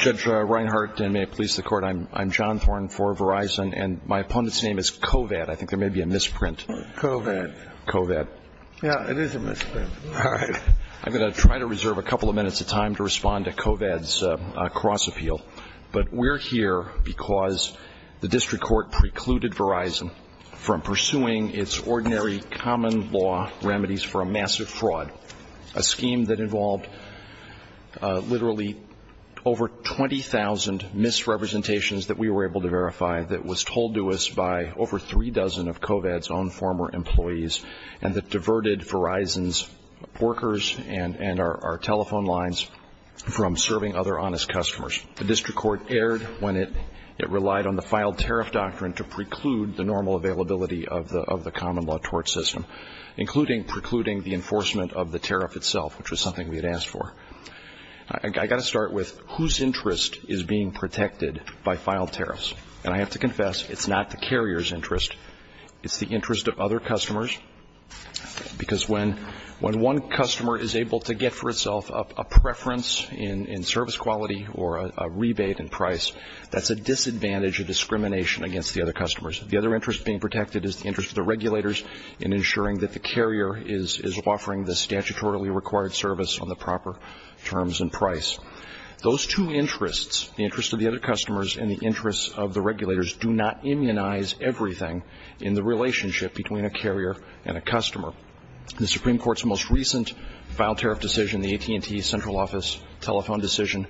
Judge Reinhart, and may it please the court, I'm John Thorne for Verizon, and my opponent's name is Covad. I think there may be a misprint. Covad. Covad. Yeah, it is a misprint. All right. I'm going to try to reserve a couple of minutes of time to respond to Covad's cross-appeal. But we're here because the district court precluded Verizon from pursuing its ordinary common law remedies for a massive fraud, a scheme that involved literally over 20,000 misrepresentations that we were able to verify that was told to us by over three dozen of Covad's own former employees and that diverted Verizon's workers and our telephone lines from serving other honest customers. The district court erred when it relied on the filed tariff doctrine to preclude the normal availability of the common law tort system, including precluding the enforcement of the tariff itself, which was something we had asked for. I've got to start with whose interest is being protected by filed tariffs? And I have to confess, it's not the carrier's interest. It's the interest of other customers, because when one customer is able to get for itself a preference in service quality or a rebate in price, that's a disadvantage of discrimination against the other customers. The other interest being protected is the interest of the regulators in ensuring that the carrier is offering the statutorily required service on the proper terms and price. Those two interests, the interest of the other customers and the interest of the regulators, do not immunize everything in the relationship between a carrier and a customer. The Supreme Court's most recent filed tariff decision, the AT&T central office telephone decision,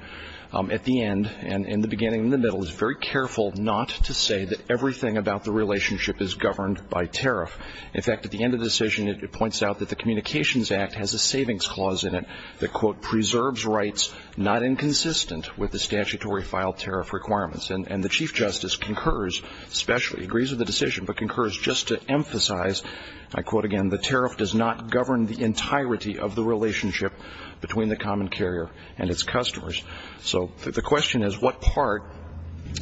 at the end and in the beginning and the middle is very careful not to say that everything about the relationship is governed by tariff. In fact, at the end of the decision, it points out that the Communications Act has a savings clause in it that, quote, preserves rights not inconsistent with the statutory filed tariff requirements. And the Chief Justice concurs specially, agrees with the decision, but concurs just to emphasize, I quote again, the tariff does not govern the entirety of the relationship between the common carrier and its customers. So the question is, what part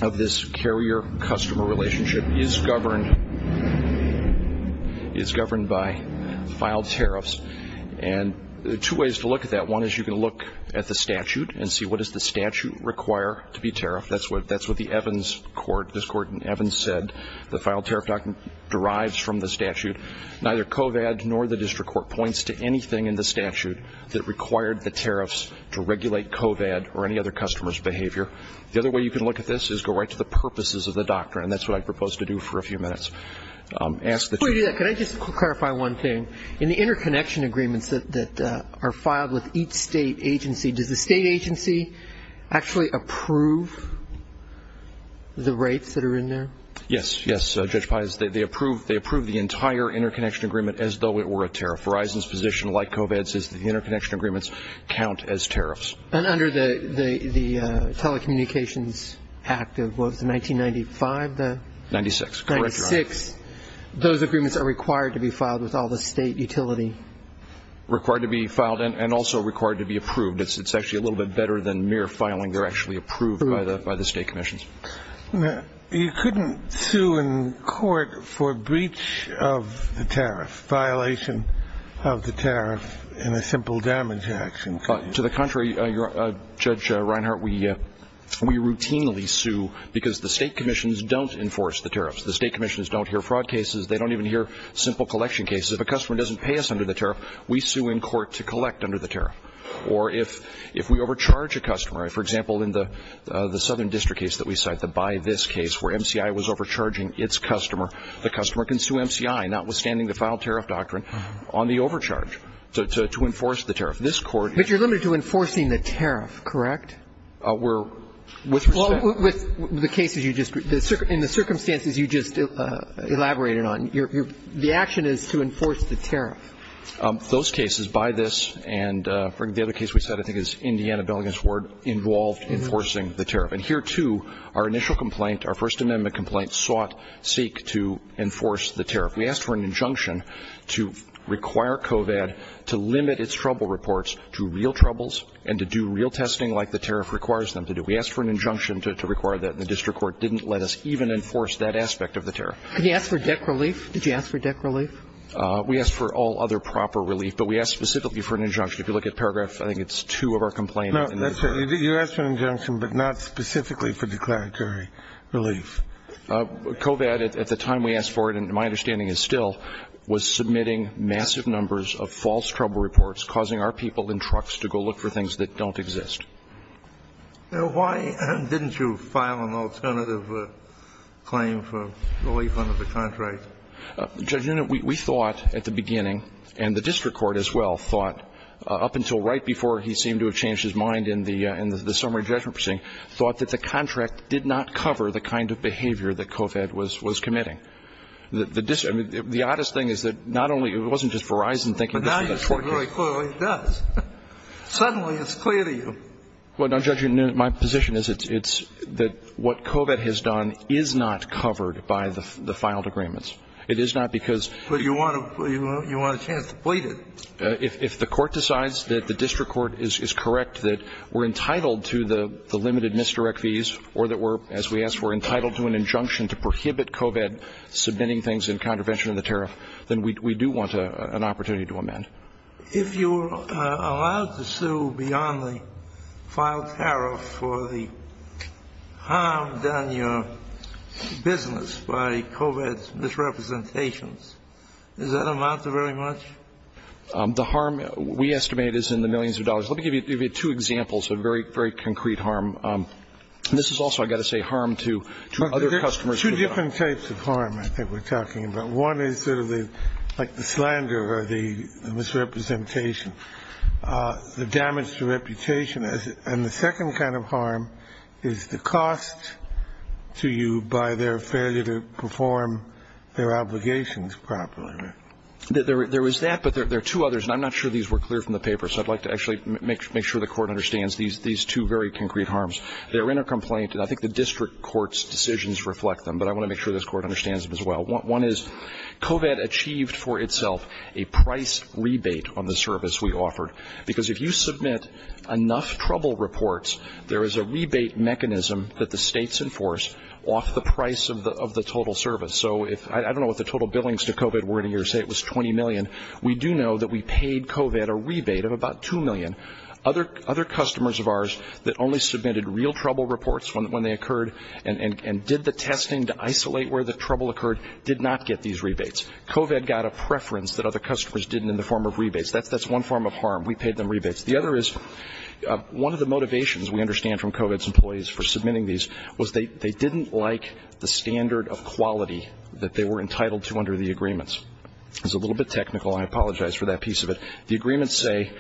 of this carrier-customer relationship is governed by filed tariffs? And there are two ways to look at that. One is you can look at the statute and see what does the statute require to be tariffed. That's what the Evans court, this court in Evans said, the filed tariff doctrine derives from the statute. Neither COVAD nor the district court points to anything in the statute that required the tariffs to regulate COVAD or any other customer's behavior. The other way you can look at this is go right to the purposes of the doctrine, and that's what I propose to do for a few minutes. Before you do that, can I just clarify one thing? In the interconnection agreements that are filed with each state agency, does the state agency actually approve the rights that are in there? Yes. Yes, Judge Pais, they approve the entire interconnection agreement as though it were a tariff. Verizon's position, like COVAD's, is that the interconnection agreements count as tariffs. And under the Telecommunications Act of what was it, 1995? 1996. 1996. Those agreements are required to be filed with all the state utility? Required to be filed and also required to be approved. It's actually a little bit better than mere filing. They're actually approved by the state commissions. You couldn't sue in court for breach of the tariff, violation of the tariff in a simple damage action? To the contrary, Judge Reinhart, we routinely sue because the state commissions don't enforce the tariffs. The state commissions don't hear fraud cases. They don't even hear simple collection cases. If a customer doesn't pay us under the tariff, we sue in court to collect under the tariff. Or if we overcharge a customer, for example, in the Southern District case that we cite, the Buy This case, where MCI was overcharging its customer, the customer can sue MCI, notwithstanding the filed tariff doctrine, on the overcharge to enforce the tariff. But you're limited to enforcing the tariff, correct? Well, with the cases you just, in the circumstances you just elaborated on, the action is to enforce the tariff. Those cases, Buy This, and the other case we cite I think is Indiana, Bellingham's Ward, involved enforcing the tariff. And here, too, our initial complaint, our First Amendment complaint, sought, seek to enforce the tariff. We asked for an injunction to require COVAD to limit its trouble reports to real troubles and to do real testing like the tariff requires them to do. We asked for an injunction to require that, and the district court didn't let us even enforce that aspect of the tariff. Did you ask for debt relief? Did you ask for debt relief? We asked for all other proper relief, but we asked specifically for an injunction. If you look at paragraph, I think it's two of our complaints. No, that's right. You asked for an injunction, but not specifically for declaratory relief. COVAD, at the time we asked for it, and my understanding is still, was submitting massive numbers of false trouble reports, causing our people in trucks to go look for things that don't exist. Now, why didn't you file an alternative claim for relief under the contract? Judge Nunez, we thought at the beginning, and the district court as well thought up until right before he seemed to have changed his mind in the summary judgment proceeding, thought that the contract did not cover the kind of behavior that COVAD was committing. The oddest thing is that not only, it wasn't just Verizon thinking this way. But now you're saying very clearly it does. Suddenly it's clear to you. Well, now, Judge Nunez, my position is it's that what COVAD has done is not covered by the filed agreements. It is not because. But you want a chance to plead it. If the court decides that the district court is correct, that we're entitled to the limited misdirect fees or that we're, as we asked, we're entitled to an injunction to prohibit COVAD submitting things in contravention of the tariff, then we do want an opportunity to amend. If you're allowed to sue beyond the filed tariff for the harm done in your business by COVAD's misrepresentations, is that amount very much? The harm we estimate is in the millions of dollars. Let me give you two examples of very, very concrete harm. This is also, I've got to say, harm to other customers. Two different types of harm I think we're talking about. One is sort of like the slander or the misrepresentation, the damage to reputation. And the second kind of harm is the cost to you by their failure to perform their obligations properly. There is that, but there are two others. And I'm not sure these were clear from the paper. So I'd like to actually make sure the Court understands these two very concrete harms. They're in a complaint. And I think the district court's decisions reflect them. But I want to make sure this Court understands them as well. One is COVAD achieved for itself a price rebate on the service we offered. Because if you submit enough trouble reports, there is a rebate mechanism that the states enforce off the price of the total service. So I don't know what the total billings to COVAD were in a year. Say it was $20 million. We do know that we paid COVAD a rebate of about $2 million. Other customers of ours that only submitted real trouble reports when they occurred and did the testing to isolate where the trouble occurred did not get these rebates. COVAD got a preference that other customers didn't in the form of rebates. That's one form of harm. We paid them rebates. The other is one of the motivations we understand from COVAD's employees for submitting these was they didn't like the standard of quality that they were entitled to under the agreements. It's a little bit technical. I apologize for that piece of it. The agreements say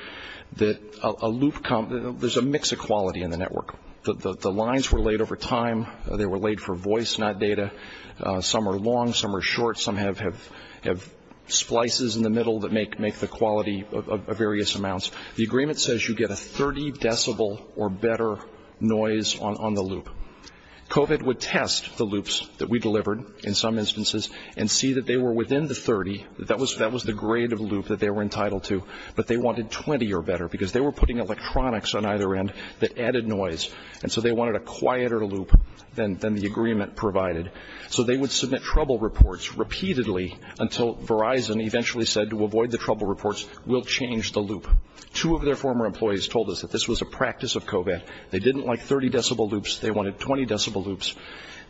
that a loop comes – there's a mix of quality in the network. The lines were laid over time. They were laid for voice, not data. Some are long. Some are short. Some have splices in the middle that make the quality of various amounts. The agreement says you get a 30 decibel or better noise on the loop. COVAD would test the loops that we delivered, in some instances, and see that they were within the 30. That was the grade of loop that they were entitled to. But they wanted 20 or better because they were putting electronics on either end that added noise, and so they wanted a quieter loop than the agreement provided. So they would submit trouble reports repeatedly until Verizon eventually said, to avoid the trouble reports, we'll change the loop. Two of their former employees told us that this was a practice of COVAD. They didn't like 30-decibel loops. They wanted 20-decibel loops.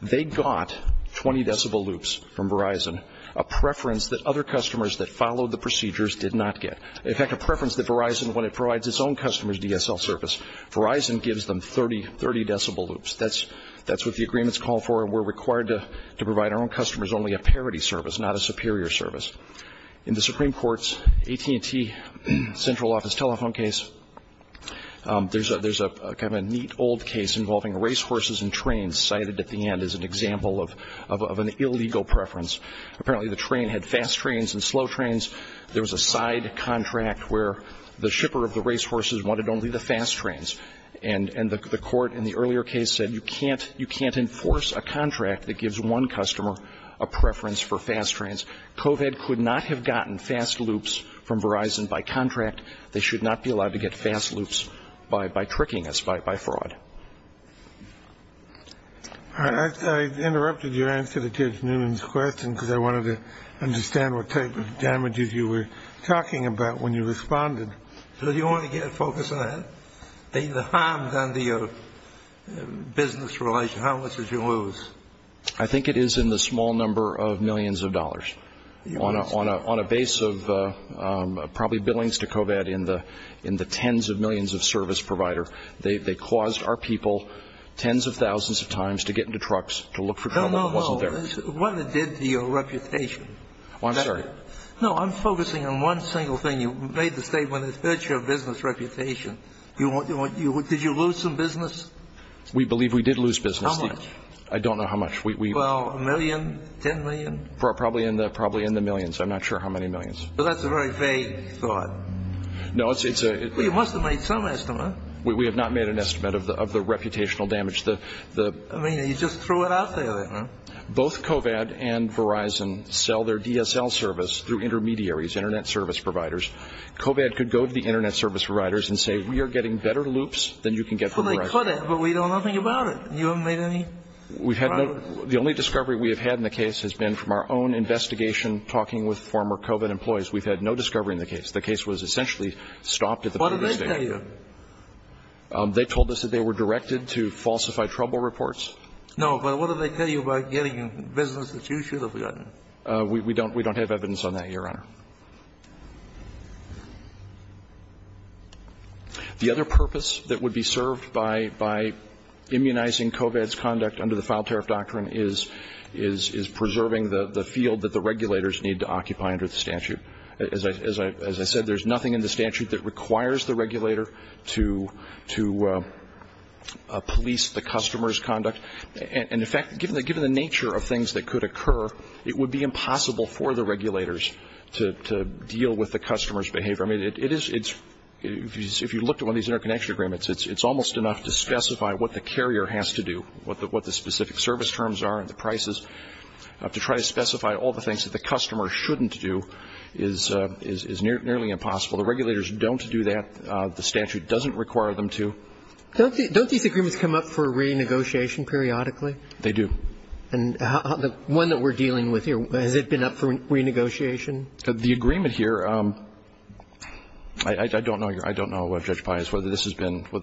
They got 20-decibel loops from Verizon, a preference that other customers that followed the procedures did not get. In fact, a preference that Verizon, when it provides its own customers DSL service, Verizon gives them 30-decibel loops. That's what the agreements call for, and we're required to provide our own customers only a parity service, not a superior service. In the Supreme Court's AT&T central office telephone case, there's kind of a neat old case involving racehorses and trains cited at the end as an example of an illegal preference. Apparently the train had fast trains and slow trains. There was a side contract where the shipper of the racehorses wanted only the fast trains, and the court in the earlier case said you can't enforce a contract that gives one customer a preference for fast trains. COVAD could not have gotten fast loops from Verizon by contract. They should not be allowed to get fast loops by tricking us, by fraud. I interrupted your answer to Judge Newman's question because I wanted to understand what type of damages you were talking about when you responded. So do you want to get a focus on that? The harm done to your business relations, how much did you lose? I think it is in the small number of millions of dollars. On a base of probably billings to COVAD in the tens of millions of service provider. They caused our people tens of thousands of times to get into trucks, to look for trouble that wasn't there. No, no, no. What it did to your reputation. I'm sorry. No, I'm focusing on one single thing. You made the statement that it hurt your business reputation. Did you lose some business? We believe we did lose business. How much? I don't know how much. Well, a million? Ten million? Probably in the millions. I'm not sure how many millions. That's a very vague thought. No, it's a You must have made some estimate. We have not made an estimate of the reputational damage. I mean, you just threw it out there. Both COVAD and Verizon sell their DSL service through intermediaries, internet service providers. COVAD could go to the internet service providers and say, we are getting better loops than you can get from Verizon. Well, they could, but we know nothing about it. You haven't made any progress. The only discovery we have had in the case has been from our own investigation, talking with former COVAD employees. We've had no discovery in the case. The case was essentially stopped at the police station. What did they tell you? They told us that they were directed to falsify trouble reports. No, but what did they tell you about getting business that you should have gotten? We don't have evidence on that, Your Honor. The other purpose that would be served by immunizing COVAD's conduct under the file tariff doctrine is preserving the field that the regulators need to occupy under the statute. As I said, there's nothing in the statute that requires the regulator to police the customer's conduct. And, in fact, given the nature of things that could occur, it would be impossible for the regulators to deal with the customer's behavior. I mean, if you looked at one of these interconnection agreements, it's almost enough to specify what the carrier has to do, what the specific service terms are and the prices, to try to specify all the things that the customer shouldn't do is nearly impossible. The regulators don't do that. The statute doesn't require them to. Don't these agreements come up for renegotiation periodically? They do. And the one that we're dealing with here, has it been up for renegotiation? The agreement here, I don't know, Judge Pius, whether this has been up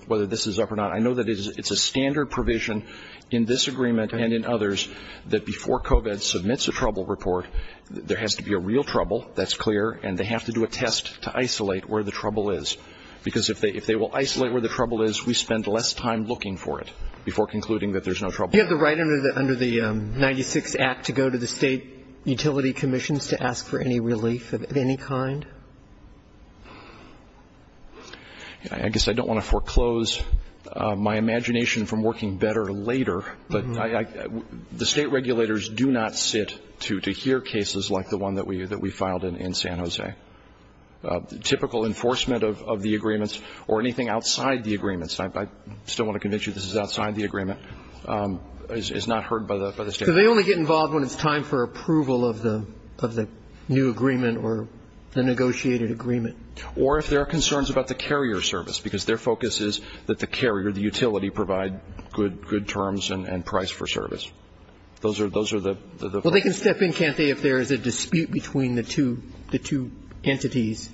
or not. I know that it's a standard provision in this agreement and in others that before COVID submits a trouble report, there has to be a real trouble. That's clear. And they have to do a test to isolate where the trouble is. Because if they will isolate where the trouble is, we spend less time looking for it before concluding that there's no trouble. You have the right under the 96 Act to go to the State Utility Commissions to ask for any relief of any kind? I guess I don't want to foreclose my imagination from working better later, but the State regulators do not sit to hear cases like the one that we filed in San Jose. Typical enforcement of the agreements or anything outside the agreements, I still want to convince you this is outside the agreement, is not heard by the State. So they only get involved when it's time for approval of the new agreement or the negotiated agreement? Or if there are concerns about the carrier service, because their focus is that the carrier, the utility, provide good terms and price for service. Those are the questions. Well, they can step in, can't they, if there is a dispute between the two entities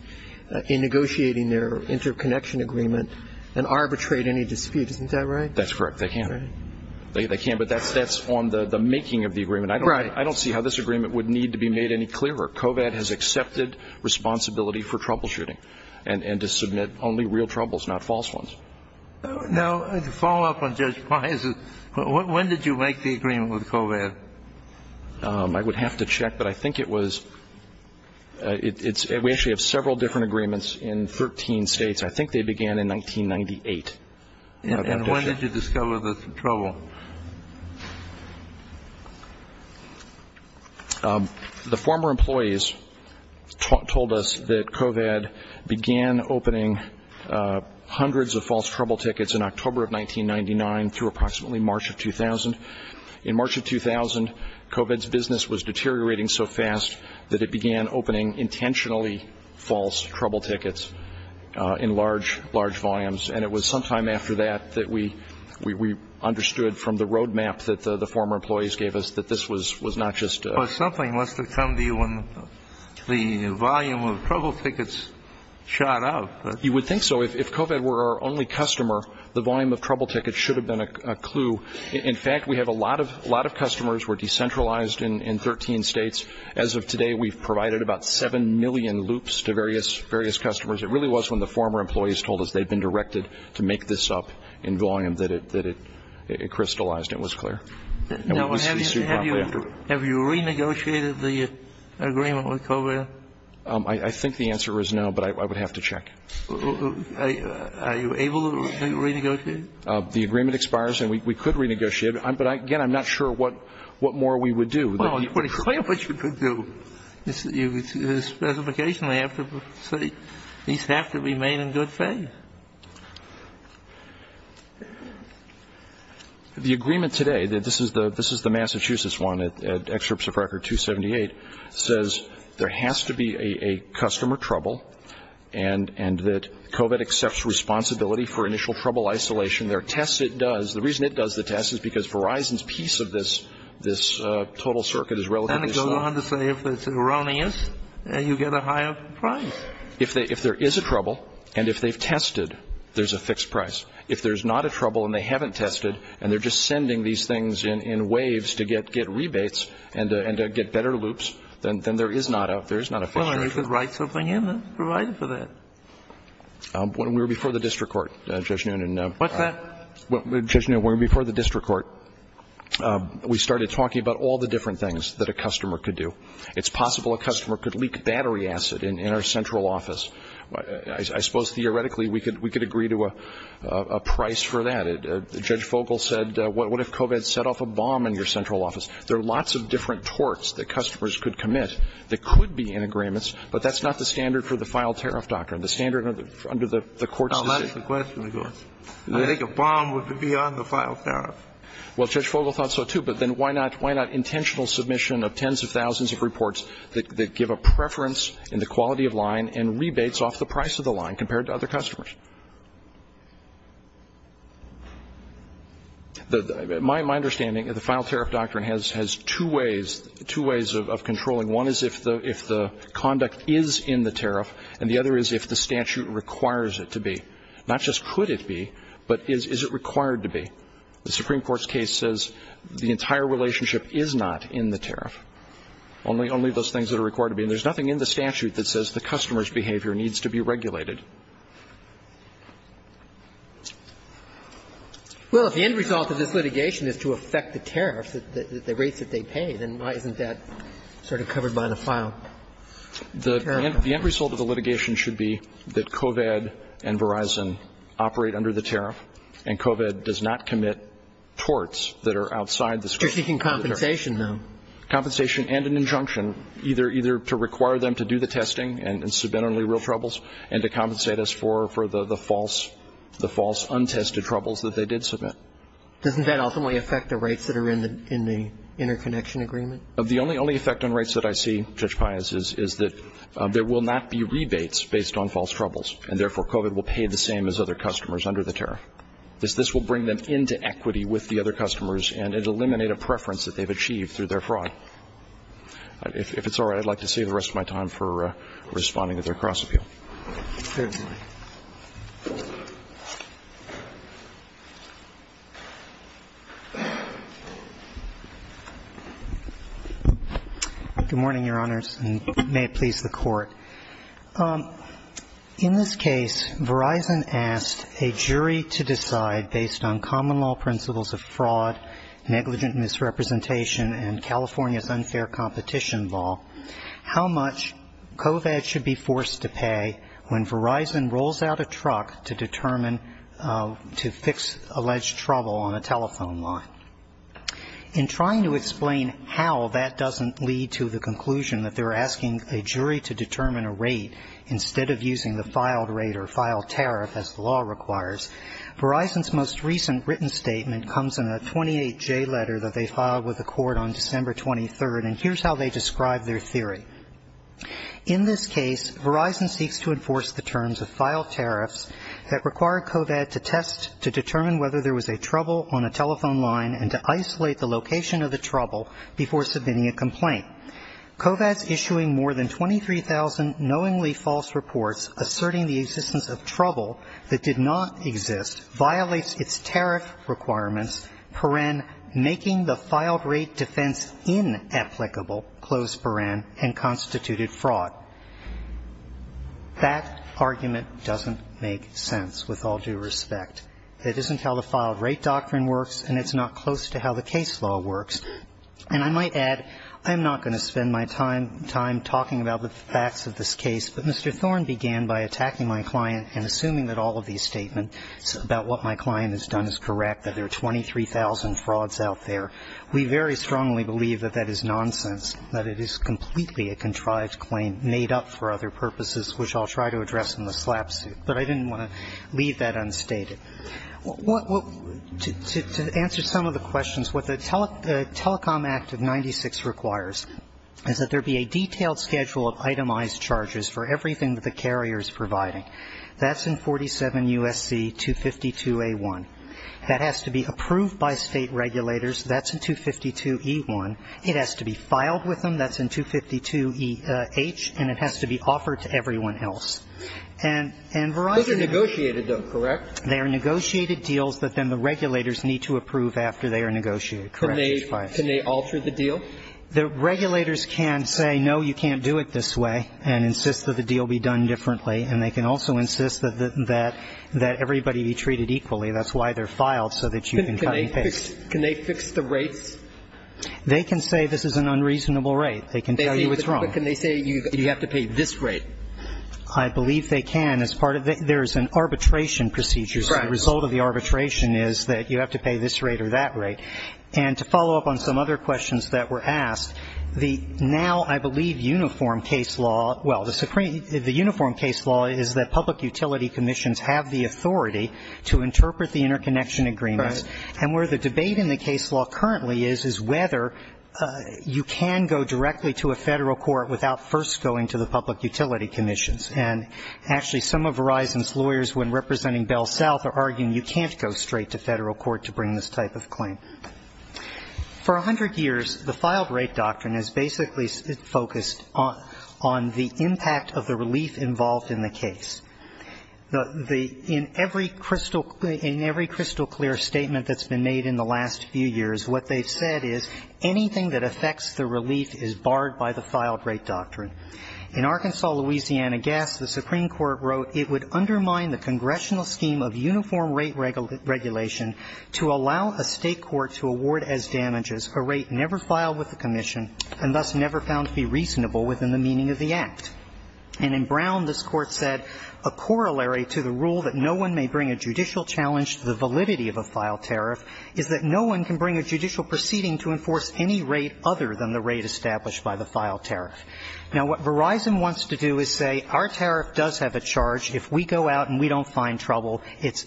in negotiating their interconnection agreement and arbitrate any dispute, isn't that right? That's correct. They can. They can, but that's on the making of the agreement. Right. I don't see how this agreement would need to be made any clearer. COVAD has accepted responsibility for troubleshooting and to submit only real troubles, not false ones. Now, to follow up on Judge Price, when did you make the agreement with COVAD? I would have to check, but I think it was we actually have several different agreements in 13 States. I think they began in 1998. And when did you discover the trouble? The former employees told us that COVAD began opening hundreds of false trouble tickets in October of 1999 through approximately March of 2000. In March of 2000, COVAD's business was deteriorating so fast that it began opening intentionally false trouble tickets in large, large volumes, and it was sometime after that that we understood from the roadmap that the former employees gave us that this was not just a... Well, something must have come to you when the volume of trouble tickets shot up. You would think so. If COVAD were our only customer, the volume of trouble tickets should have been a clue. In fact, we have a lot of customers who are decentralized in 13 States. As of today, we've provided about 7 million loops to various customers. It really was when the former employees told us they'd been directed to make this up in volume that it crystallized. It was clear. Now, have you renegotiated the agreement with COVAD? I think the answer is no, but I would have to check. Are you able to renegotiate? The agreement expires, and we could renegotiate it. But, again, I'm not sure what more we would do. Well, it's pretty clear what you could do. Specification, I have to say, these have to be made in good faith. The agreement today, this is the Massachusetts one, Excerpts of Record 278, says there has to be a customer trouble and that COVAD accepts responsibility for initial trouble isolation. There are tests it does. The reason it does the test is because Verizon's piece of this total circuit is relatively small. And it goes on to say if it's erroneous, you get a higher price. If there is a trouble and if they've tested, there's a fixed price. If there's not a trouble and they haven't tested and they're just sending these things in waves to get rebates and to get better loops, then there is not a fixed charge. Well, I'm sure you could write something in that's provided for that. When we were before the district court, Judge Noonan. What's that? Well, Judge Noonan, when we were before the district court, we started talking about all the different things that a customer could do. It's possible a customer could leak battery acid in our central office. I suppose theoretically we could agree to a price for that. Judge Fogle said, what if COVAD set off a bomb in your central office? There are lots of different torts that customers could commit that could be in agreements, but that's not the standard for the file tariff doctrine, the standard under the court system. Well, that's the question. I think a bomb would be on the file tariff. Well, Judge Fogle thought so, too. But then why not intentional submission of tens of thousands of reports that give a preference in the quality of line and rebates off the price of the line compared to other customers? My understanding, the file tariff doctrine has two ways of controlling. One is if the conduct is in the tariff, and the other is if the statute requires it to be, not just could it be, but is it required to be. The Supreme Court's case says the entire relationship is not in the tariff, only those things that are required to be. And there's nothing in the statute that says the customer's behavior needs to be regulated. Well, if the end result of this litigation is to affect the tariffs, the rates that they pay, then why isn't that sort of covered by the file tariff? The end result of the litigation should be that COVAD and Verizon operate under the tariff, and COVAD does not commit torts that are outside the scope of the tariff. You're seeking compensation, though. Compensation and an injunction, either to require them to do the testing and submit only real troubles and to compensate us for the false, untested troubles that they did submit. Doesn't that ultimately affect the rates that are in the interconnection agreement? The only effect on rates that I see, Judge Pius, is that there will not be rebates based on false troubles, and therefore COVAD will pay the same as other customers under the tariff. This will bring them into equity with the other customers, and it will eliminate a preference that they've achieved through their fraud. If it's all right, I'd like to save the rest of my time for responding to their cross-appeal. Good morning, Your Honors, and may it please the Court. In this case, Verizon asked a jury to decide, based on common law principles of fraud, negligent misrepresentation, and California's unfair competition law, how much COVAD should be forced to pay when Verizon rolls out a truck to determine to fix alleged trouble on a telephone line. In trying to explain how that doesn't lead to the conclusion that they're asking a jury to determine a rate instead of using the filed rate or filed tariff, as the law requires, Verizon's most recent written statement comes in a 28J letter that their theory. In this case, Verizon seeks to enforce the terms of filed tariffs that require COVAD to test to determine whether there was a trouble on a telephone line and to isolate the location of the trouble before submitting a complaint. COVAD's issuing more than 23,000 knowingly false reports asserting the existence of trouble that did not exist violates its tariff requirements, peren, making the case unassailable, close peren, and constituted fraud. That argument doesn't make sense, with all due respect. It isn't how the filed rate doctrine works, and it's not close to how the case law works. And I might add, I'm not going to spend my time talking about the facts of this case, but Mr. Thorne began by attacking my client and assuming that all of these statements about what my client has done is correct, that there are 23,000 frauds out there. We very strongly believe that that is nonsense, that it is completely a contrived claim made up for other purposes, which I'll try to address in the slap suit. But I didn't want to leave that unstated. To answer some of the questions, what the Telecom Act of 96 requires is that there be a detailed schedule of itemized charges for everything that the carrier is providing. That's in 47 U.S.C. 252A1. That has to be approved by State regulators. That's in 252E1. It has to be filed with them. That's in 252EH. And it has to be offered to everyone else. And Verizon has to be approved. Roberts. Those are negotiated, though, correct? They are negotiated deals that then the regulators need to approve after they are negotiated, correct? Can they alter the deal? The regulators can say, no, you can't do it this way, and insist that the deal be done differently. And they can also insist that everybody be treated equally. That's why they're filed, so that you can cut and paste. Can they fix the rates? They can say this is an unreasonable rate. They can tell you it's wrong. Can they say you have to pay this rate? I believe they can. There's an arbitration procedure, so the result of the arbitration is that you have to pay this rate or that rate. And to follow up on some other questions that were asked, the now, I believe, uniform case law, well, the uniform case law is that public utility commissions have the authority to interpret the interconnection agreements. Right. And where the debate in the case law currently is, is whether you can go directly to a Federal court without first going to the public utility commissions. And actually, some of Verizon's lawyers, when representing Bell South, are arguing you can't go straight to Federal court to bring this type of claim. For 100 years, the filed rate doctrine has basically focused on the impact of the relief involved in the case. In every crystal clear statement that's been made in the last few years, what they've said is anything that affects the relief is barred by the filed rate doctrine. In Arkansas, Louisiana, Guess, the Supreme Court wrote it would undermine the congressional scheme of uniform rate regulation to allow a state court to award as damages a rate never filed with the commission and thus never found to be reasonable within the meaning of the act. And in Brown, this Court said, A corollary to the rule that no one may bring a judicial challenge to the validity of a filed tariff is that no one can bring a judicial proceeding to enforce any rate other than the rate established by the filed tariff. Now, what Verizon wants to do is say our tariff does have a charge. If we go out and we don't find trouble, it's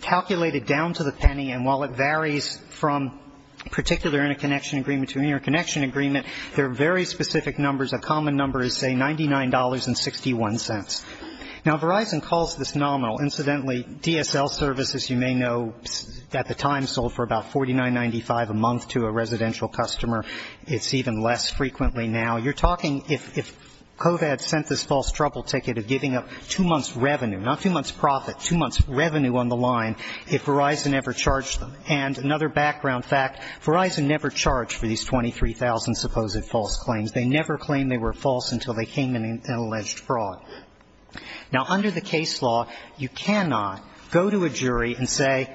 calculated down to the penny. And while it varies from particular interconnection agreement to interconnection agreement, there are very specific numbers. A common number is, say, $99.61. Now, Verizon calls this nominal. Incidentally, DSL services, you may know, at the time sold for about $49.95 a month to a residential customer. It's even less frequently now. You're talking if COVID sent this false trouble ticket of giving up two months' revenue, not two months' profit, two months' revenue on the line if Verizon ever charged them. And another background fact, Verizon never charged for these 23,000 supposed false claims. They never claimed they were false until they came in an alleged fraud. Now, under the case law, you cannot go to a jury and say,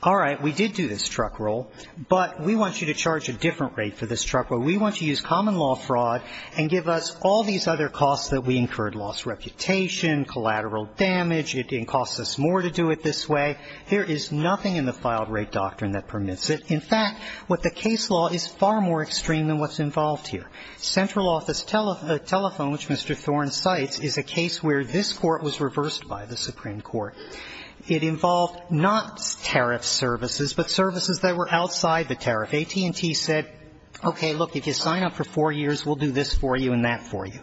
all right, we did do this truck roll, but we want you to charge a different rate for this truck roll. We want you to use common law fraud and give us all these other costs that we incurred, lost reputation, collateral damage. It costs us more to do it this way. There is nothing in the filed rate doctrine that permits it. In fact, what the case law is far more extreme than what's involved here. Central Office Telephone, which Mr. Thorne cites, is a case where this court was reversed by the Supreme Court. It involved not tariff services, but services that were outside the tariff. AT&T said, okay, look, if you sign up for four years, we'll do this for you and that for you.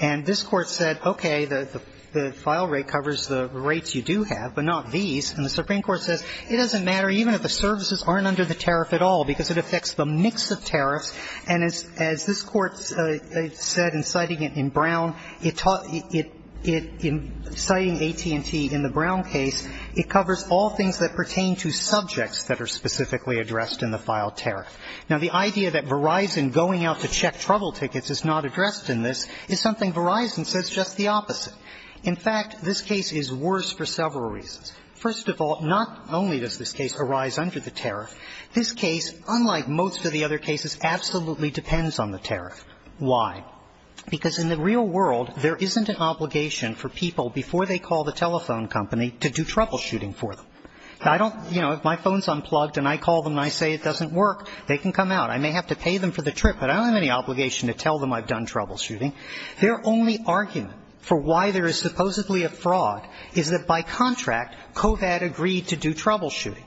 And this court said, okay, the file rate covers the rates you do have, but not these, and the Supreme Court says it doesn't matter even if the services aren't under the tariff at all, because it affects the mix of tariffs. And as this Court said in citing it in Brown, it taught it – in citing AT&T in the Brown case, it covers all things that pertain to subjects that are specifically addressed in the filed tariff. Now, the idea that Verizon going out to check trouble tickets is not addressed in this is something Verizon says just the opposite. In fact, this case is worse for several reasons. First of all, not only does this case arise under the tariff, this case, unlike most of the other cases, absolutely depends on the tariff. Why? Because in the real world, there isn't an obligation for people, before they call the telephone company, to do troubleshooting for them. I don't – you know, if my phone's unplugged and I call them and I say it doesn't work, they can come out. I may have to pay them for the trip, but I don't have any obligation to tell them I've done troubleshooting. Their only argument for why there is supposedly a fraud is that by contract, COVAD agreed to do troubleshooting.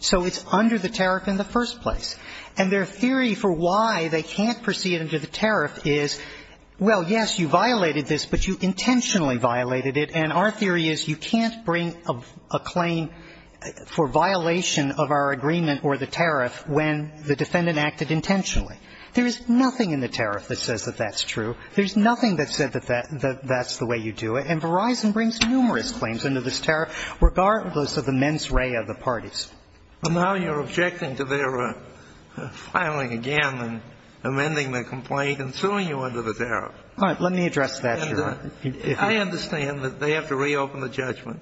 So it's under the tariff in the first place. And their theory for why they can't proceed under the tariff is, well, yes, you violated this, but you intentionally violated it, and our theory is you can't bring a claim for violation of our agreement or the tariff when the defendant acted intentionally. There is nothing in the tariff that says that that's true. There's nothing that said that that's the way you do it. And Verizon brings numerous claims under this tariff, regardless of the mens rea of the parties. But now you're objecting to their filing again and amending the complaint and suing you under the tariff. All right. Let me address that, Your Honor. I understand that they have to reopen the judgment.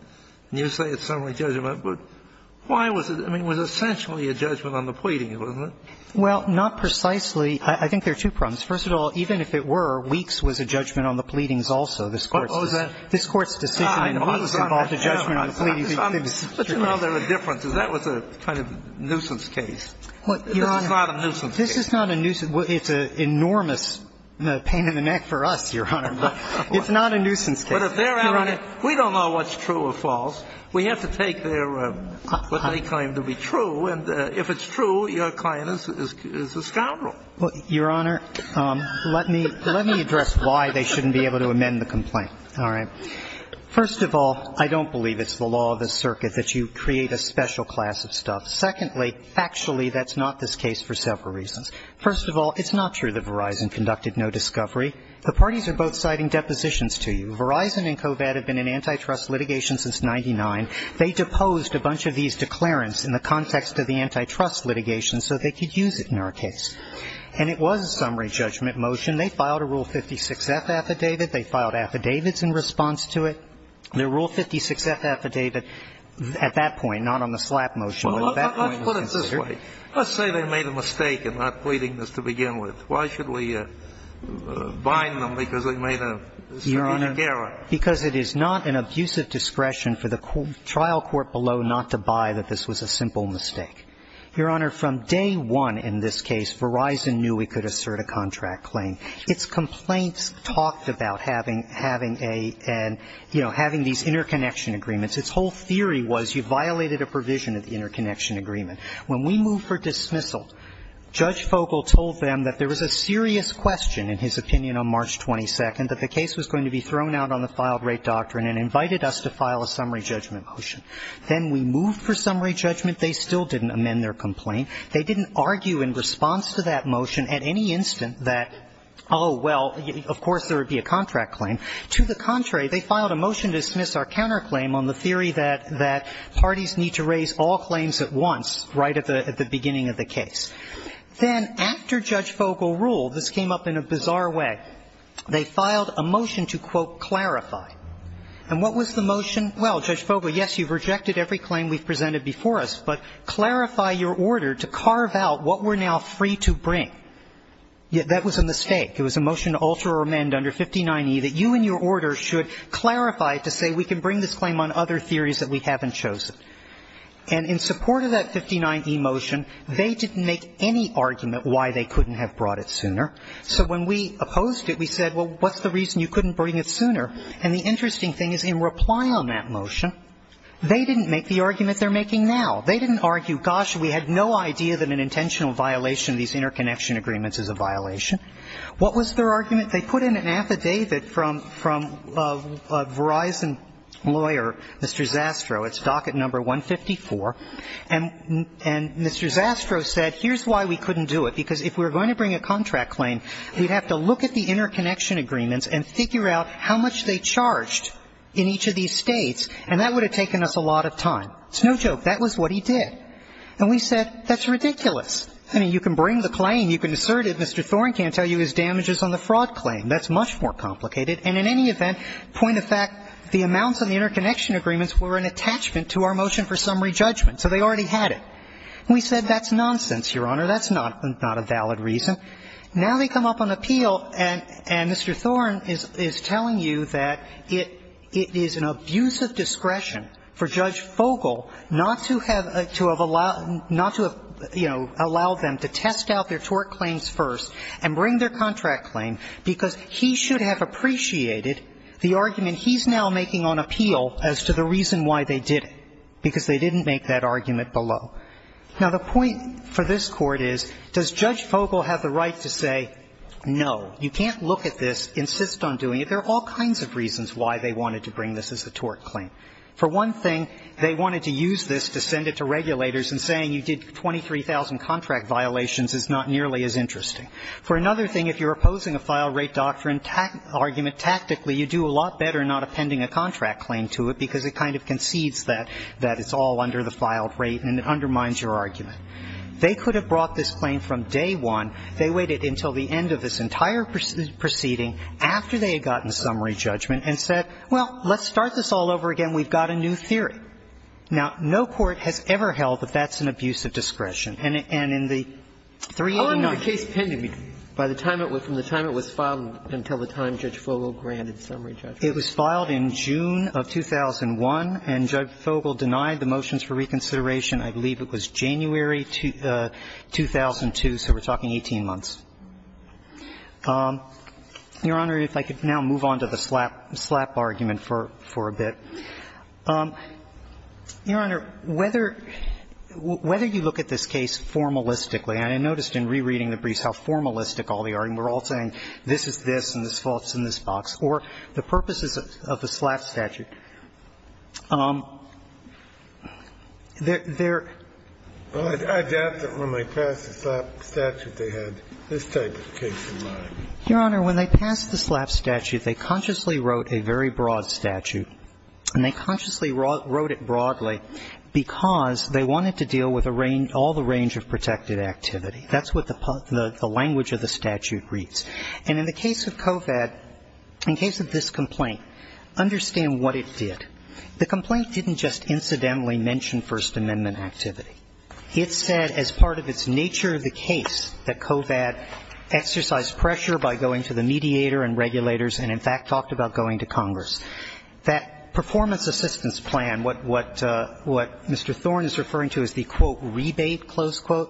You say it's summary judgment, but why was it – I mean, it was essentially a judgment on the pleading, wasn't it? Well, not precisely. I think there are two problems. First of all, even if it were, Weeks was a judgment on the pleadings also. This Court's decision in Weeks involved a judgment on the pleadings. But you know there are differences. That was a kind of nuisance case. This is not a nuisance case. This is not a nuisance. It's an enormous pain in the neck for us, Your Honor. But it's not a nuisance case. But if they're out on it, we don't know what's true or false. We have to take their – what they claim to be true. And if it's true, your client is a scoundrel. Well, Your Honor, let me address why they shouldn't be able to amend the complaint. All right. First of all, I don't believe it's the law of the circuit that you create a special class of stuff. Secondly, factually, that's not this case for several reasons. First of all, it's not true that Verizon conducted no discovery. The parties are both citing depositions to you. Verizon and COVAD have been in antitrust litigation since 1999. They deposed a bunch of these declarants in the context of the antitrust litigation so they could use it in our case. And it was a summary judgment motion. They filed a Rule 56-F affidavit. They filed affidavits in response to it. The Rule 56-F affidavit at that point, not on the slap motion, but at that point was considered. Well, let's put it this way. Let's say they made a mistake in not pleading this to begin with. Why should we bind them because they made a strategic error? Your Honor, because it is not an abusive discretion for the trial court below not to buy that this was a simple mistake. Your Honor, from day one in this case, Verizon knew we could assert a contract claim. Its complaints talked about having a, you know, having these interconnection agreements. Its whole theory was you violated a provision of the interconnection agreement. When we moved for dismissal, Judge Fogel told them that there was a serious question, in his opinion, on March 22nd, that the case was going to be thrown out on the filed-rate doctrine and invited us to file a summary judgment motion. Then we moved for summary judgment. They still didn't amend their complaint. They didn't argue in response to that motion at any instant that, oh, well, of course there would be a contract claim. To the contrary, they filed a motion to dismiss our counterclaim on the theory that parties need to raise all claims at once right at the beginning of the case. Then after Judge Fogel ruled, this came up in a bizarre way, they filed a motion to, quote, clarify. And what was the motion? Well, Judge Fogel, yes, you've rejected every claim we've presented before us, but clarify your order to carve out what we're now free to bring. That was a mistake. It was a motion to alter or amend under 59e that you and your order should clarify it to say we can bring this claim on other theories that we haven't chosen. And in support of that 59e motion, they didn't make any argument why they couldn't have brought it sooner. So when we opposed it, we said, well, what's the reason you couldn't bring it sooner? And the interesting thing is in reply on that motion, they didn't make the argument they're making now. They didn't argue, gosh, we had no idea that an intentional violation of these interconnection agreements is a violation. What was their argument? They put in an affidavit from a Verizon lawyer, Mr. Zastrow. It's docket number 154. And Mr. Zastrow said, here's why we couldn't do it. Because if we were going to bring a contract claim, we'd have to look at the interconnection agreements and figure out how much they charged in each of these States. And that would have taken us a lot of time. It's no joke. That was what he did. And we said, that's ridiculous. I mean, you can bring the claim, you can assert it. Mr. Thorne can't tell you his damages on the fraud claim. That's much more complicated. And in any event, point of fact, the amounts on the interconnection agreements were an attachment to our motion for summary judgment. So they already had it. And we said, that's nonsense, Your Honor. That's not a valid reason. Now they come up on appeal, and Mr. Thorne is telling you that it is an abuse of discretion for Judge Fogel not to have to have allowed, not to have, you know, allowed them to test out their tort claims first and bring their contract claim, because he should have appreciated the argument he's now making on appeal as to the reason why they did it, because they didn't make that argument below. Now, the point for this Court is, does Judge Fogel have the right to say no? You can't look at this, insist on doing it. There are all kinds of reasons why they wanted to bring this as a tort claim. For one thing, they wanted to use this to send it to regulators and saying you did 23,000 contract violations is not nearly as interesting. For another thing, if you're opposing a filed-rate doctrine argument tactically, you do a lot better not appending a contract claim to it, because it kind of concedes that it's all under the filed rate and it undermines your argument. They could have brought this claim from day one. They waited until the end of this entire proceeding, after they had gotten summary judgment, and said, well, let's start this all over again. We've got a new theory. Now, no court has ever held that that's an abuse of discretion. And in the 389. Gershengorn How long was the case pending? From the time it was filed until the time Judge Fogel granted summary judgment? It was filed in June of 2001, and Judge Fogel denied the motions for reconsideration, I believe it was January 2002, so we're talking 18 months. Your Honor, if I could now move on to the slap argument for a bit. Your Honor, whether you look at this case formalistically, and I noticed in rereading the briefs how formalistic all the arguments, we're all saying this is this and this box, or the purposes of the slap statute. There are. I doubt that when they passed the slap statute they had this type of case in mind. Your Honor, when they passed the slap statute, they consciously wrote a very broad statute, and they consciously wrote it broadly because they wanted to deal with all the range of protected activity. That's what the language of the statute reads. And in the case of COVAD, in case of this complaint, understand what it did. The complaint didn't just incidentally mention First Amendment activity. It said as part of its nature of the case that COVAD exercised pressure by going to the mediator and regulators and, in fact, talked about going to Congress. That performance assistance plan, what Mr. Thorne is referring to as the, quote, Mr.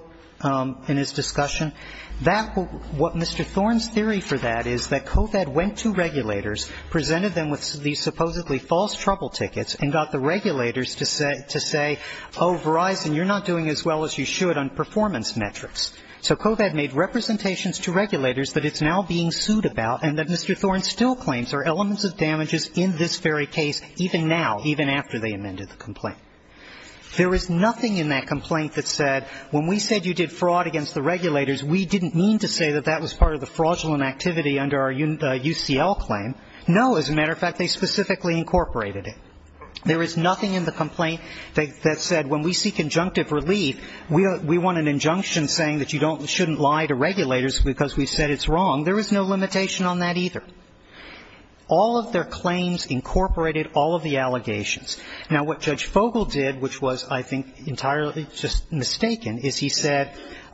Thorne's theory for that is that COVAD went to regulators, presented them with these supposedly false trouble tickets, and got the regulators to say, oh, Verizon, you're not doing as well as you should on performance metrics. So COVAD made representations to regulators that it's now being sued about and that Mr. Thorne still claims are elements of damages in this very case, even now, even after they amended the complaint. There is nothing in that complaint that said when we said you did fraud against the regulators, we didn't mean to say that that was part of the fraudulent activity under our UCL claim. No, as a matter of fact, they specifically incorporated it. There is nothing in the complaint that said when we seek injunctive relief, we want an injunction saying that you shouldn't lie to regulators because we've said it's wrong. There is no limitation on that either. All of their claims incorporated all of the allegations. Now, what Judge Fogle did, which was, I think, entirely just mistaken, is he said,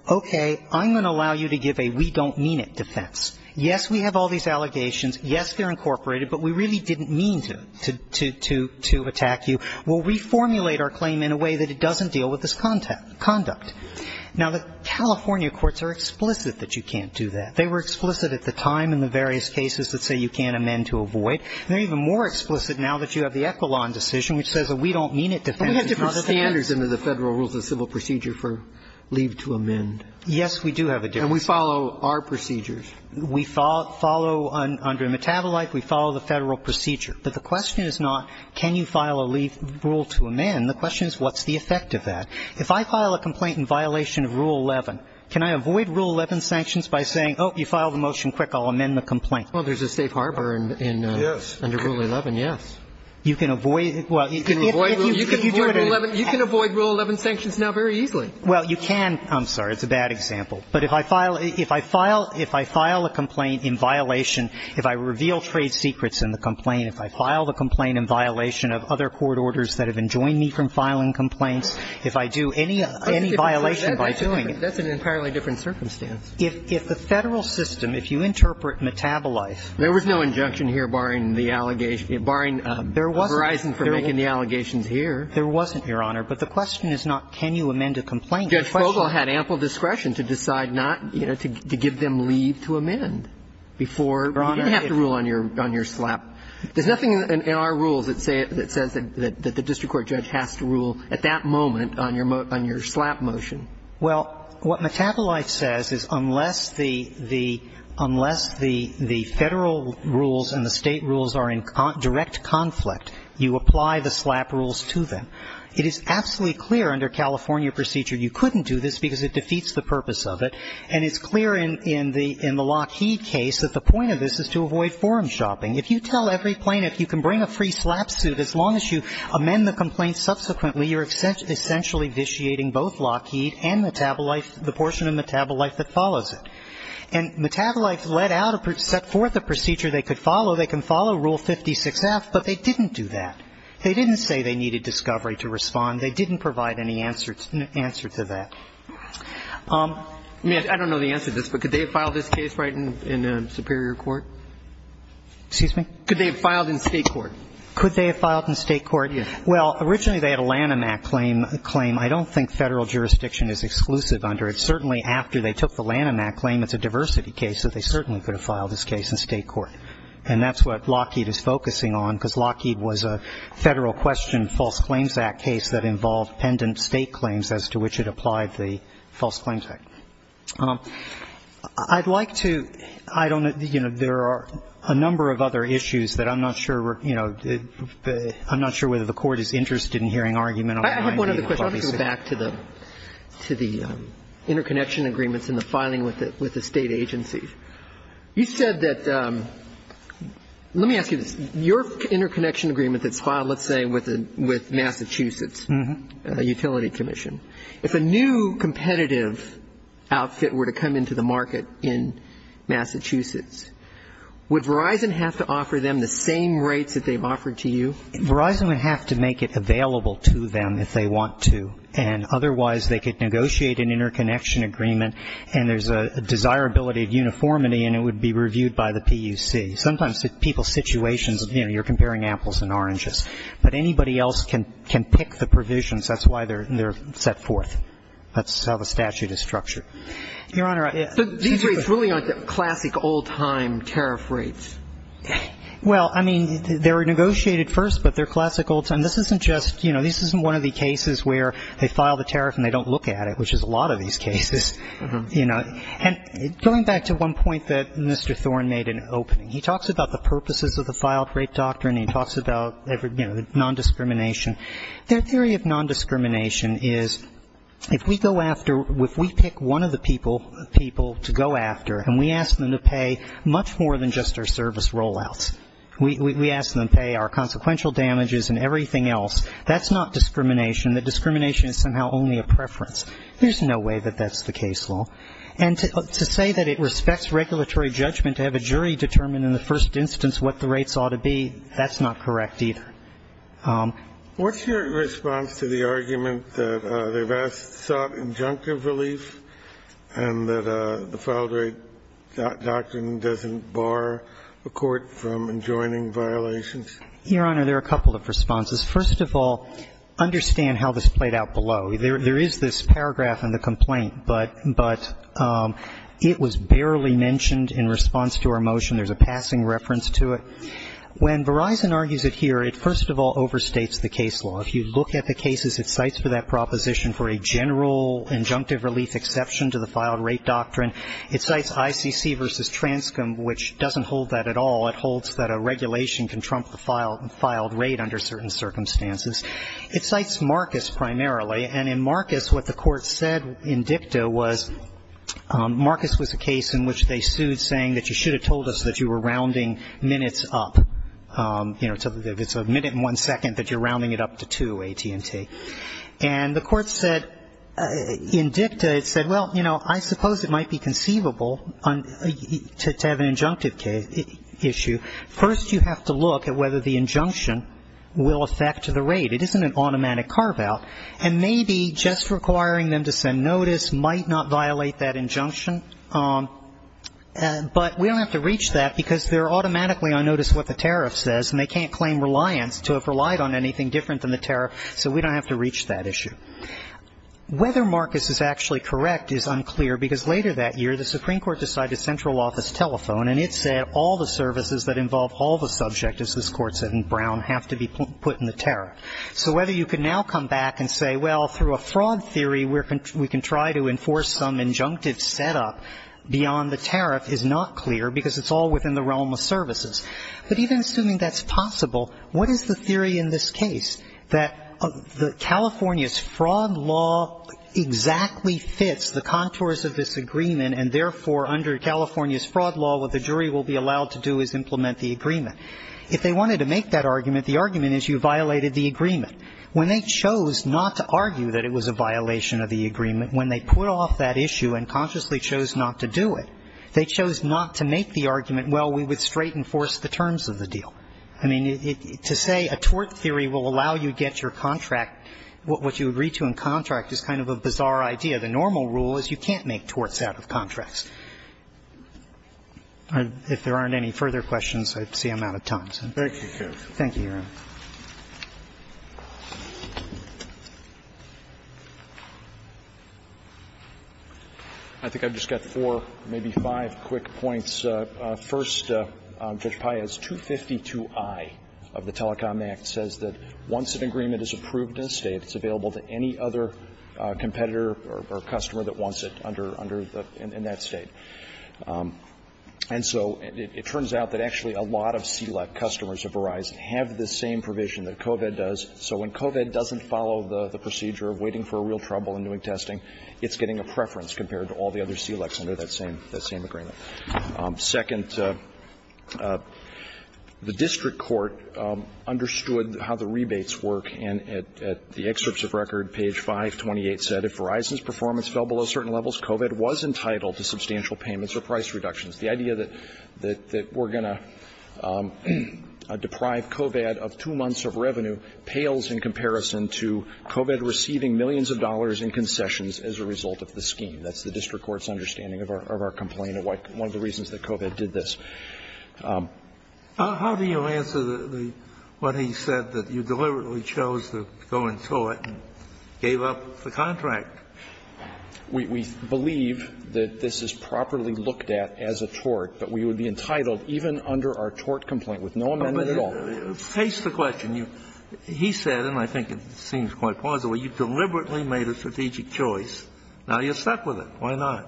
okay, I'm going to allow you to give a we don't mean it defense. Yes, we have all these allegations. Yes, they're incorporated, but we really didn't mean to attack you. We'll reformulate our claim in a way that it doesn't deal with this conduct. Now, the California courts are explicit that you can't do that. They were explicit at the time in the various cases that say you can't amend to We have different standards under the Federal Rules of Civil Procedure for leave to amend. Yes, we do have a difference. And we follow our procedures. We follow under Metabolite. We follow the Federal procedure. But the question is not can you file a leave rule to amend. The question is what's the effect of that. If I file a complaint in violation of Rule 11, can I avoid Rule 11 sanctions by saying, oh, you filed a motion, quick, I'll amend the complaint? Well, there's a safe harbor under Rule 11, yes. You can avoid it. You can avoid Rule 11. You can avoid Rule 11 sanctions now very easily. Well, you can. I'm sorry. It's a bad example. But if I file a complaint in violation, if I reveal trade secrets in the complaint, if I file the complaint in violation of other court orders that have enjoined me from filing complaints, if I do any violation by doing it. That's an entirely different circumstance. If the Federal system, if you interpret Metabolite. There was no injunction here barring the allegation, barring Verizon from making the allegations here. There wasn't, Your Honor. But the question is not can you amend a complaint. Judge Fogle had ample discretion to decide not, you know, to give them leave to amend before you have to rule on your slap. There's nothing in our rules that says that the district court judge has to rule at that moment on your slap motion. Well, what Metabolite says is unless the Federal rules and the State rules are in direct conflict, you apply the slap rules to them. It is absolutely clear under California procedure you couldn't do this because it defeats the purpose of it. And it's clear in the Lockheed case that the point of this is to avoid forum shopping. If you tell every plaintiff you can bring a free slap suit, as long as you amend the complaint subsequently, you're essentially vitiating both Lockheed and Metabolite, the portion of Metabolite that follows it. And Metabolite set forth a procedure they could follow. They can follow Rule 56F, but they didn't do that. They didn't say they needed discovery to respond. They didn't provide any answer to that. I don't know the answer to this, but could they have filed this case right in Superior Court? Excuse me? Could they have filed in State court? Could they have filed in State court? Well, originally they had a Lanham Act claim. I don't think Federal jurisdiction is exclusive under it. Certainly after they took the Lanham Act claim, it's a diversity case, so they certainly could have filed this case in State court. And that's what Lockheed is focusing on, because Lockheed was a Federal question False Claims Act case that involved pendant State claims as to which it applied the False Claims Act. I'd like to – I don't – you know, there are a number of other issues that I'm not sure, you know, I'm not sure whether the Court is interested in hearing argument on the 90-day policy. I have one other question. I want to go back to the interconnection agreements and the filing with the State agency. You said that – let me ask you this. Your interconnection agreement that's filed, let's say, with Massachusetts Utility Commission, if a new competitive outfit were to come into the market in Massachusetts, would Verizon have to offer them the same rates that they've offered to you? Verizon would have to make it available to them if they want to, and otherwise they could negotiate an interconnection agreement, and there's a desirability of uniformity, and it would be reviewed by the PUC. Sometimes people's situations, you know, you're comparing apples and oranges. But anybody else can pick the provisions. That's why they're set forth. That's how the statute is structured. Your Honor, I – These rates really aren't classic old-time tariff rates. Well, I mean, they were negotiated first, but they're classic old-time. This isn't just – you know, this isn't one of the cases where they file the tariff and they don't look at it, which is a lot of these cases, you know. And going back to one point that Mr. Thorne made in opening, he talks about the purposes of the filed rate doctrine. He talks about, you know, non-discrimination. Their theory of non-discrimination is if we go after – if we pick one of the people to go after and we ask them to pay much more than just our service rollouts, we ask them to pay our consequential damages and everything else, that's not discrimination. The discrimination is somehow only a preference. There's no way that that's the case law. And to say that it respects regulatory judgment to have a jury determine in the first instance what the rates ought to be, that's not correct either. What's your response to the argument that they've sought injunctive relief and that the filed rate doctrine doesn't bar a court from enjoining violations? Your Honor, there are a couple of responses. First of all, understand how this played out below. There is this paragraph in the complaint, but it was barely mentioned in response to our motion. There's a passing reference to it. When Verizon argues it here, it first of all overstates the case law. If you look at the cases it cites for that proposition for a general injunctive relief exception to the filed rate doctrine, it cites ICC v. Transcom, which doesn't hold that at all. It holds that a regulation can trump the filed rate under certain circumstances. It cites Marcus primarily. And in Marcus, what the court said in dicta was Marcus was a case in which they sued saying that you should have told us that you were rounding minutes up. You know, it's a minute and one second, but you're rounding it up to two, AT&T. And the court said in dicta, it said, well, you know, I suppose it might be conceivable to have an injunctive issue. First you have to look at whether the injunction will affect the rate. It isn't an automatic carve-out. But we don't have to reach that because they're automatically on notice what the tariff says, and they can't claim reliance to have relied on anything different than the tariff, so we don't have to reach that issue. Whether Marcus is actually correct is unclear because later that year the Supreme Court decided central office telephone, and it said all the services that involve all the subject, as this court said in Brown, have to be put in the tariff. So whether you can now come back and say, well, through a fraud theory we can try to enforce some injunctive setup beyond the tariff is not clear because it's all within the realm of services. But even assuming that's possible, what is the theory in this case, that California's fraud law exactly fits the contours of this agreement, and therefore under California's fraud law what the jury will be allowed to do is implement the agreement? If they wanted to make that argument, the argument is you violated the agreement. When they chose not to argue that it was a violation of the agreement, when they put off that issue and consciously chose not to do it, they chose not to make the argument, well, we would straight enforce the terms of the deal. I mean, to say a tort theory will allow you to get your contract, what you agree to in contract is kind of a bizarre idea. The normal rule is you can't make torts out of contracts. If there aren't any further questions, I see I'm out of time. Thank you, Your Honor. I think I've just got four, maybe five quick points. First, Judge Paez, 252i of the Telecom Act says that once an agreement is approved in a State, it's available to any other competitor or customer that wants it under the – in that State. And so it turns out that actually a lot of CLEP customers of Verizon have the same provision that COVID does. So when COVID doesn't follow the procedure of waiting for a real trouble and doing testing, it's getting a preference compared to all the other CLEPs under that same – that same agreement. Second, the district court understood how the rebates work. And at the excerpts of record, page 528 said, If Verizon's performance fell below certain levels, COVID was entitled to substantial payments or price reductions. The idea that we're going to deprive COVID of two months of revenue pales in comparison to COVID receiving millions of dollars in concessions as a result of the scheme. That's the district court's understanding of our complaint and one of the reasons that COVID did this. How do you answer the – what he said, that you deliberately chose to go into it and gave up the contract? We believe that this is properly looked at as a tort, but we would be entitled, even under our tort complaint, with no amendment at all. But face the question. He said, and I think it seems quite plausible, you deliberately made a strategic choice. Now you're stuck with it. Why not?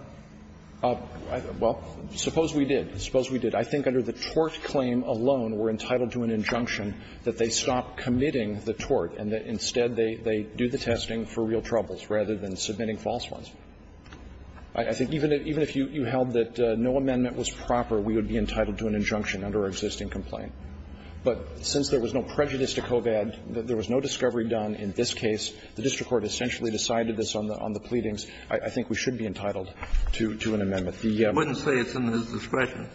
Well, suppose we did. Suppose we did. I think under the tort claim alone, we're entitled to an injunction that they stop committing the tort and that instead they do the testing for real troubles rather than submitting false ones. I think even if you held that no amendment was proper, we would be entitled to an injunction under our existing complaint. But since there was no prejudice to COVID, there was no discovery done in this case, the district court essentially decided this on the pleadings. I think we should be entitled to an amendment. The – Kennedy, I wouldn't say it's in his discretion.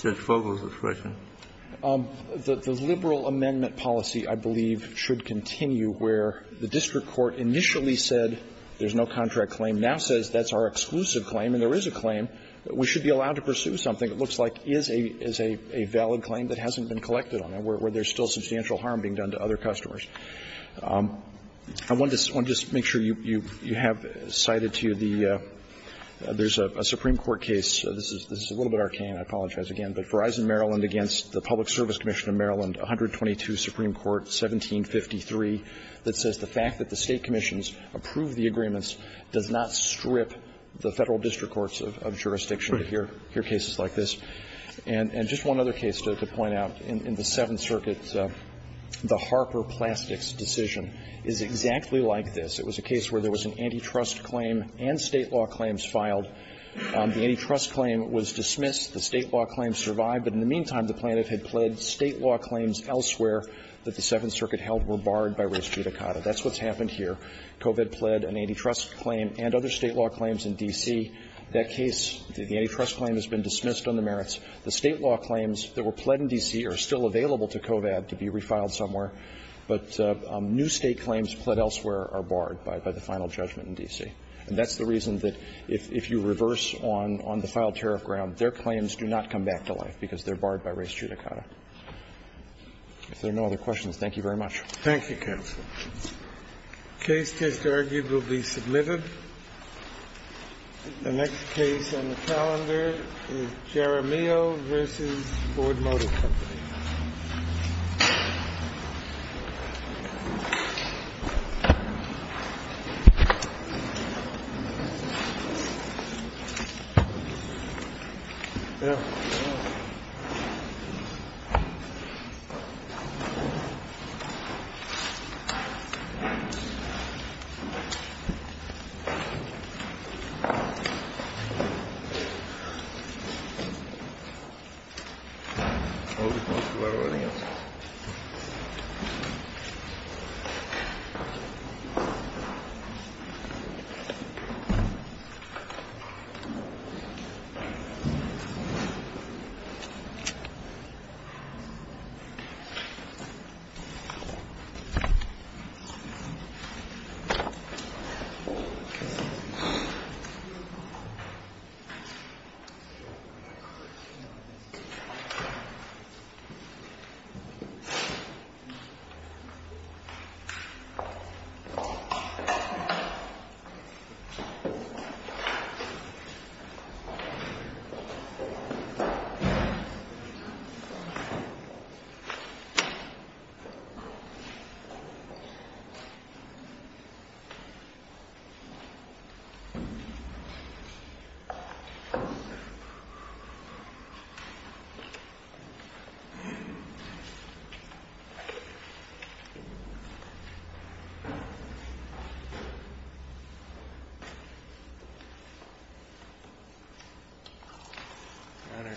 Judge Fogle's discretion. The liberal amendment policy, I believe, should continue where the district court initially said there's no contract claim, now says that's our exclusive claim and there is a claim. We should be allowed to pursue something that looks like is a valid claim that hasn't been collected on it, where there's still substantial harm being done to other customers. I want to just make sure you have cited to you the – there's a Supreme Court case. This is a little bit arcane. I apologize again. But Verizon Maryland against the Public Service Commission of Maryland, 122 Supreme Court, 1753, that says the fact that the State commissions approve the agreements does not strip the Federal district courts of jurisdiction to hear cases like this. And just one other case to point out. In the Seventh Circuit, the Harper Plastics decision is exactly like this. It was a case where there was an antitrust claim and State law claims filed. The antitrust claim was dismissed. The State law claims survived. But in the meantime, the plaintiff had pled State law claims elsewhere that the Seventh Circuit held were barred by res judicata. That's what's happened here. COVID pled an antitrust claim and other State law claims in D.C. That case, the antitrust claim has been dismissed on the merits. The State law claims that were pled in D.C. are still available to COVAD to be refiled somewhere, but new State claims pled elsewhere are barred by the final judgment in D.C. And that's the reason that if you reverse on the filed tariff ground, their claims do not come back to life because they're barred by res judicata. If there are no other questions, thank you very much. Thank you, counsel. The case just argued will be submitted. The next case on the calendar is Jeremio v. Board Motor Company. We're rolling it. Thank you. Thank you. Thank you. Thank you. Thank you. Thank you.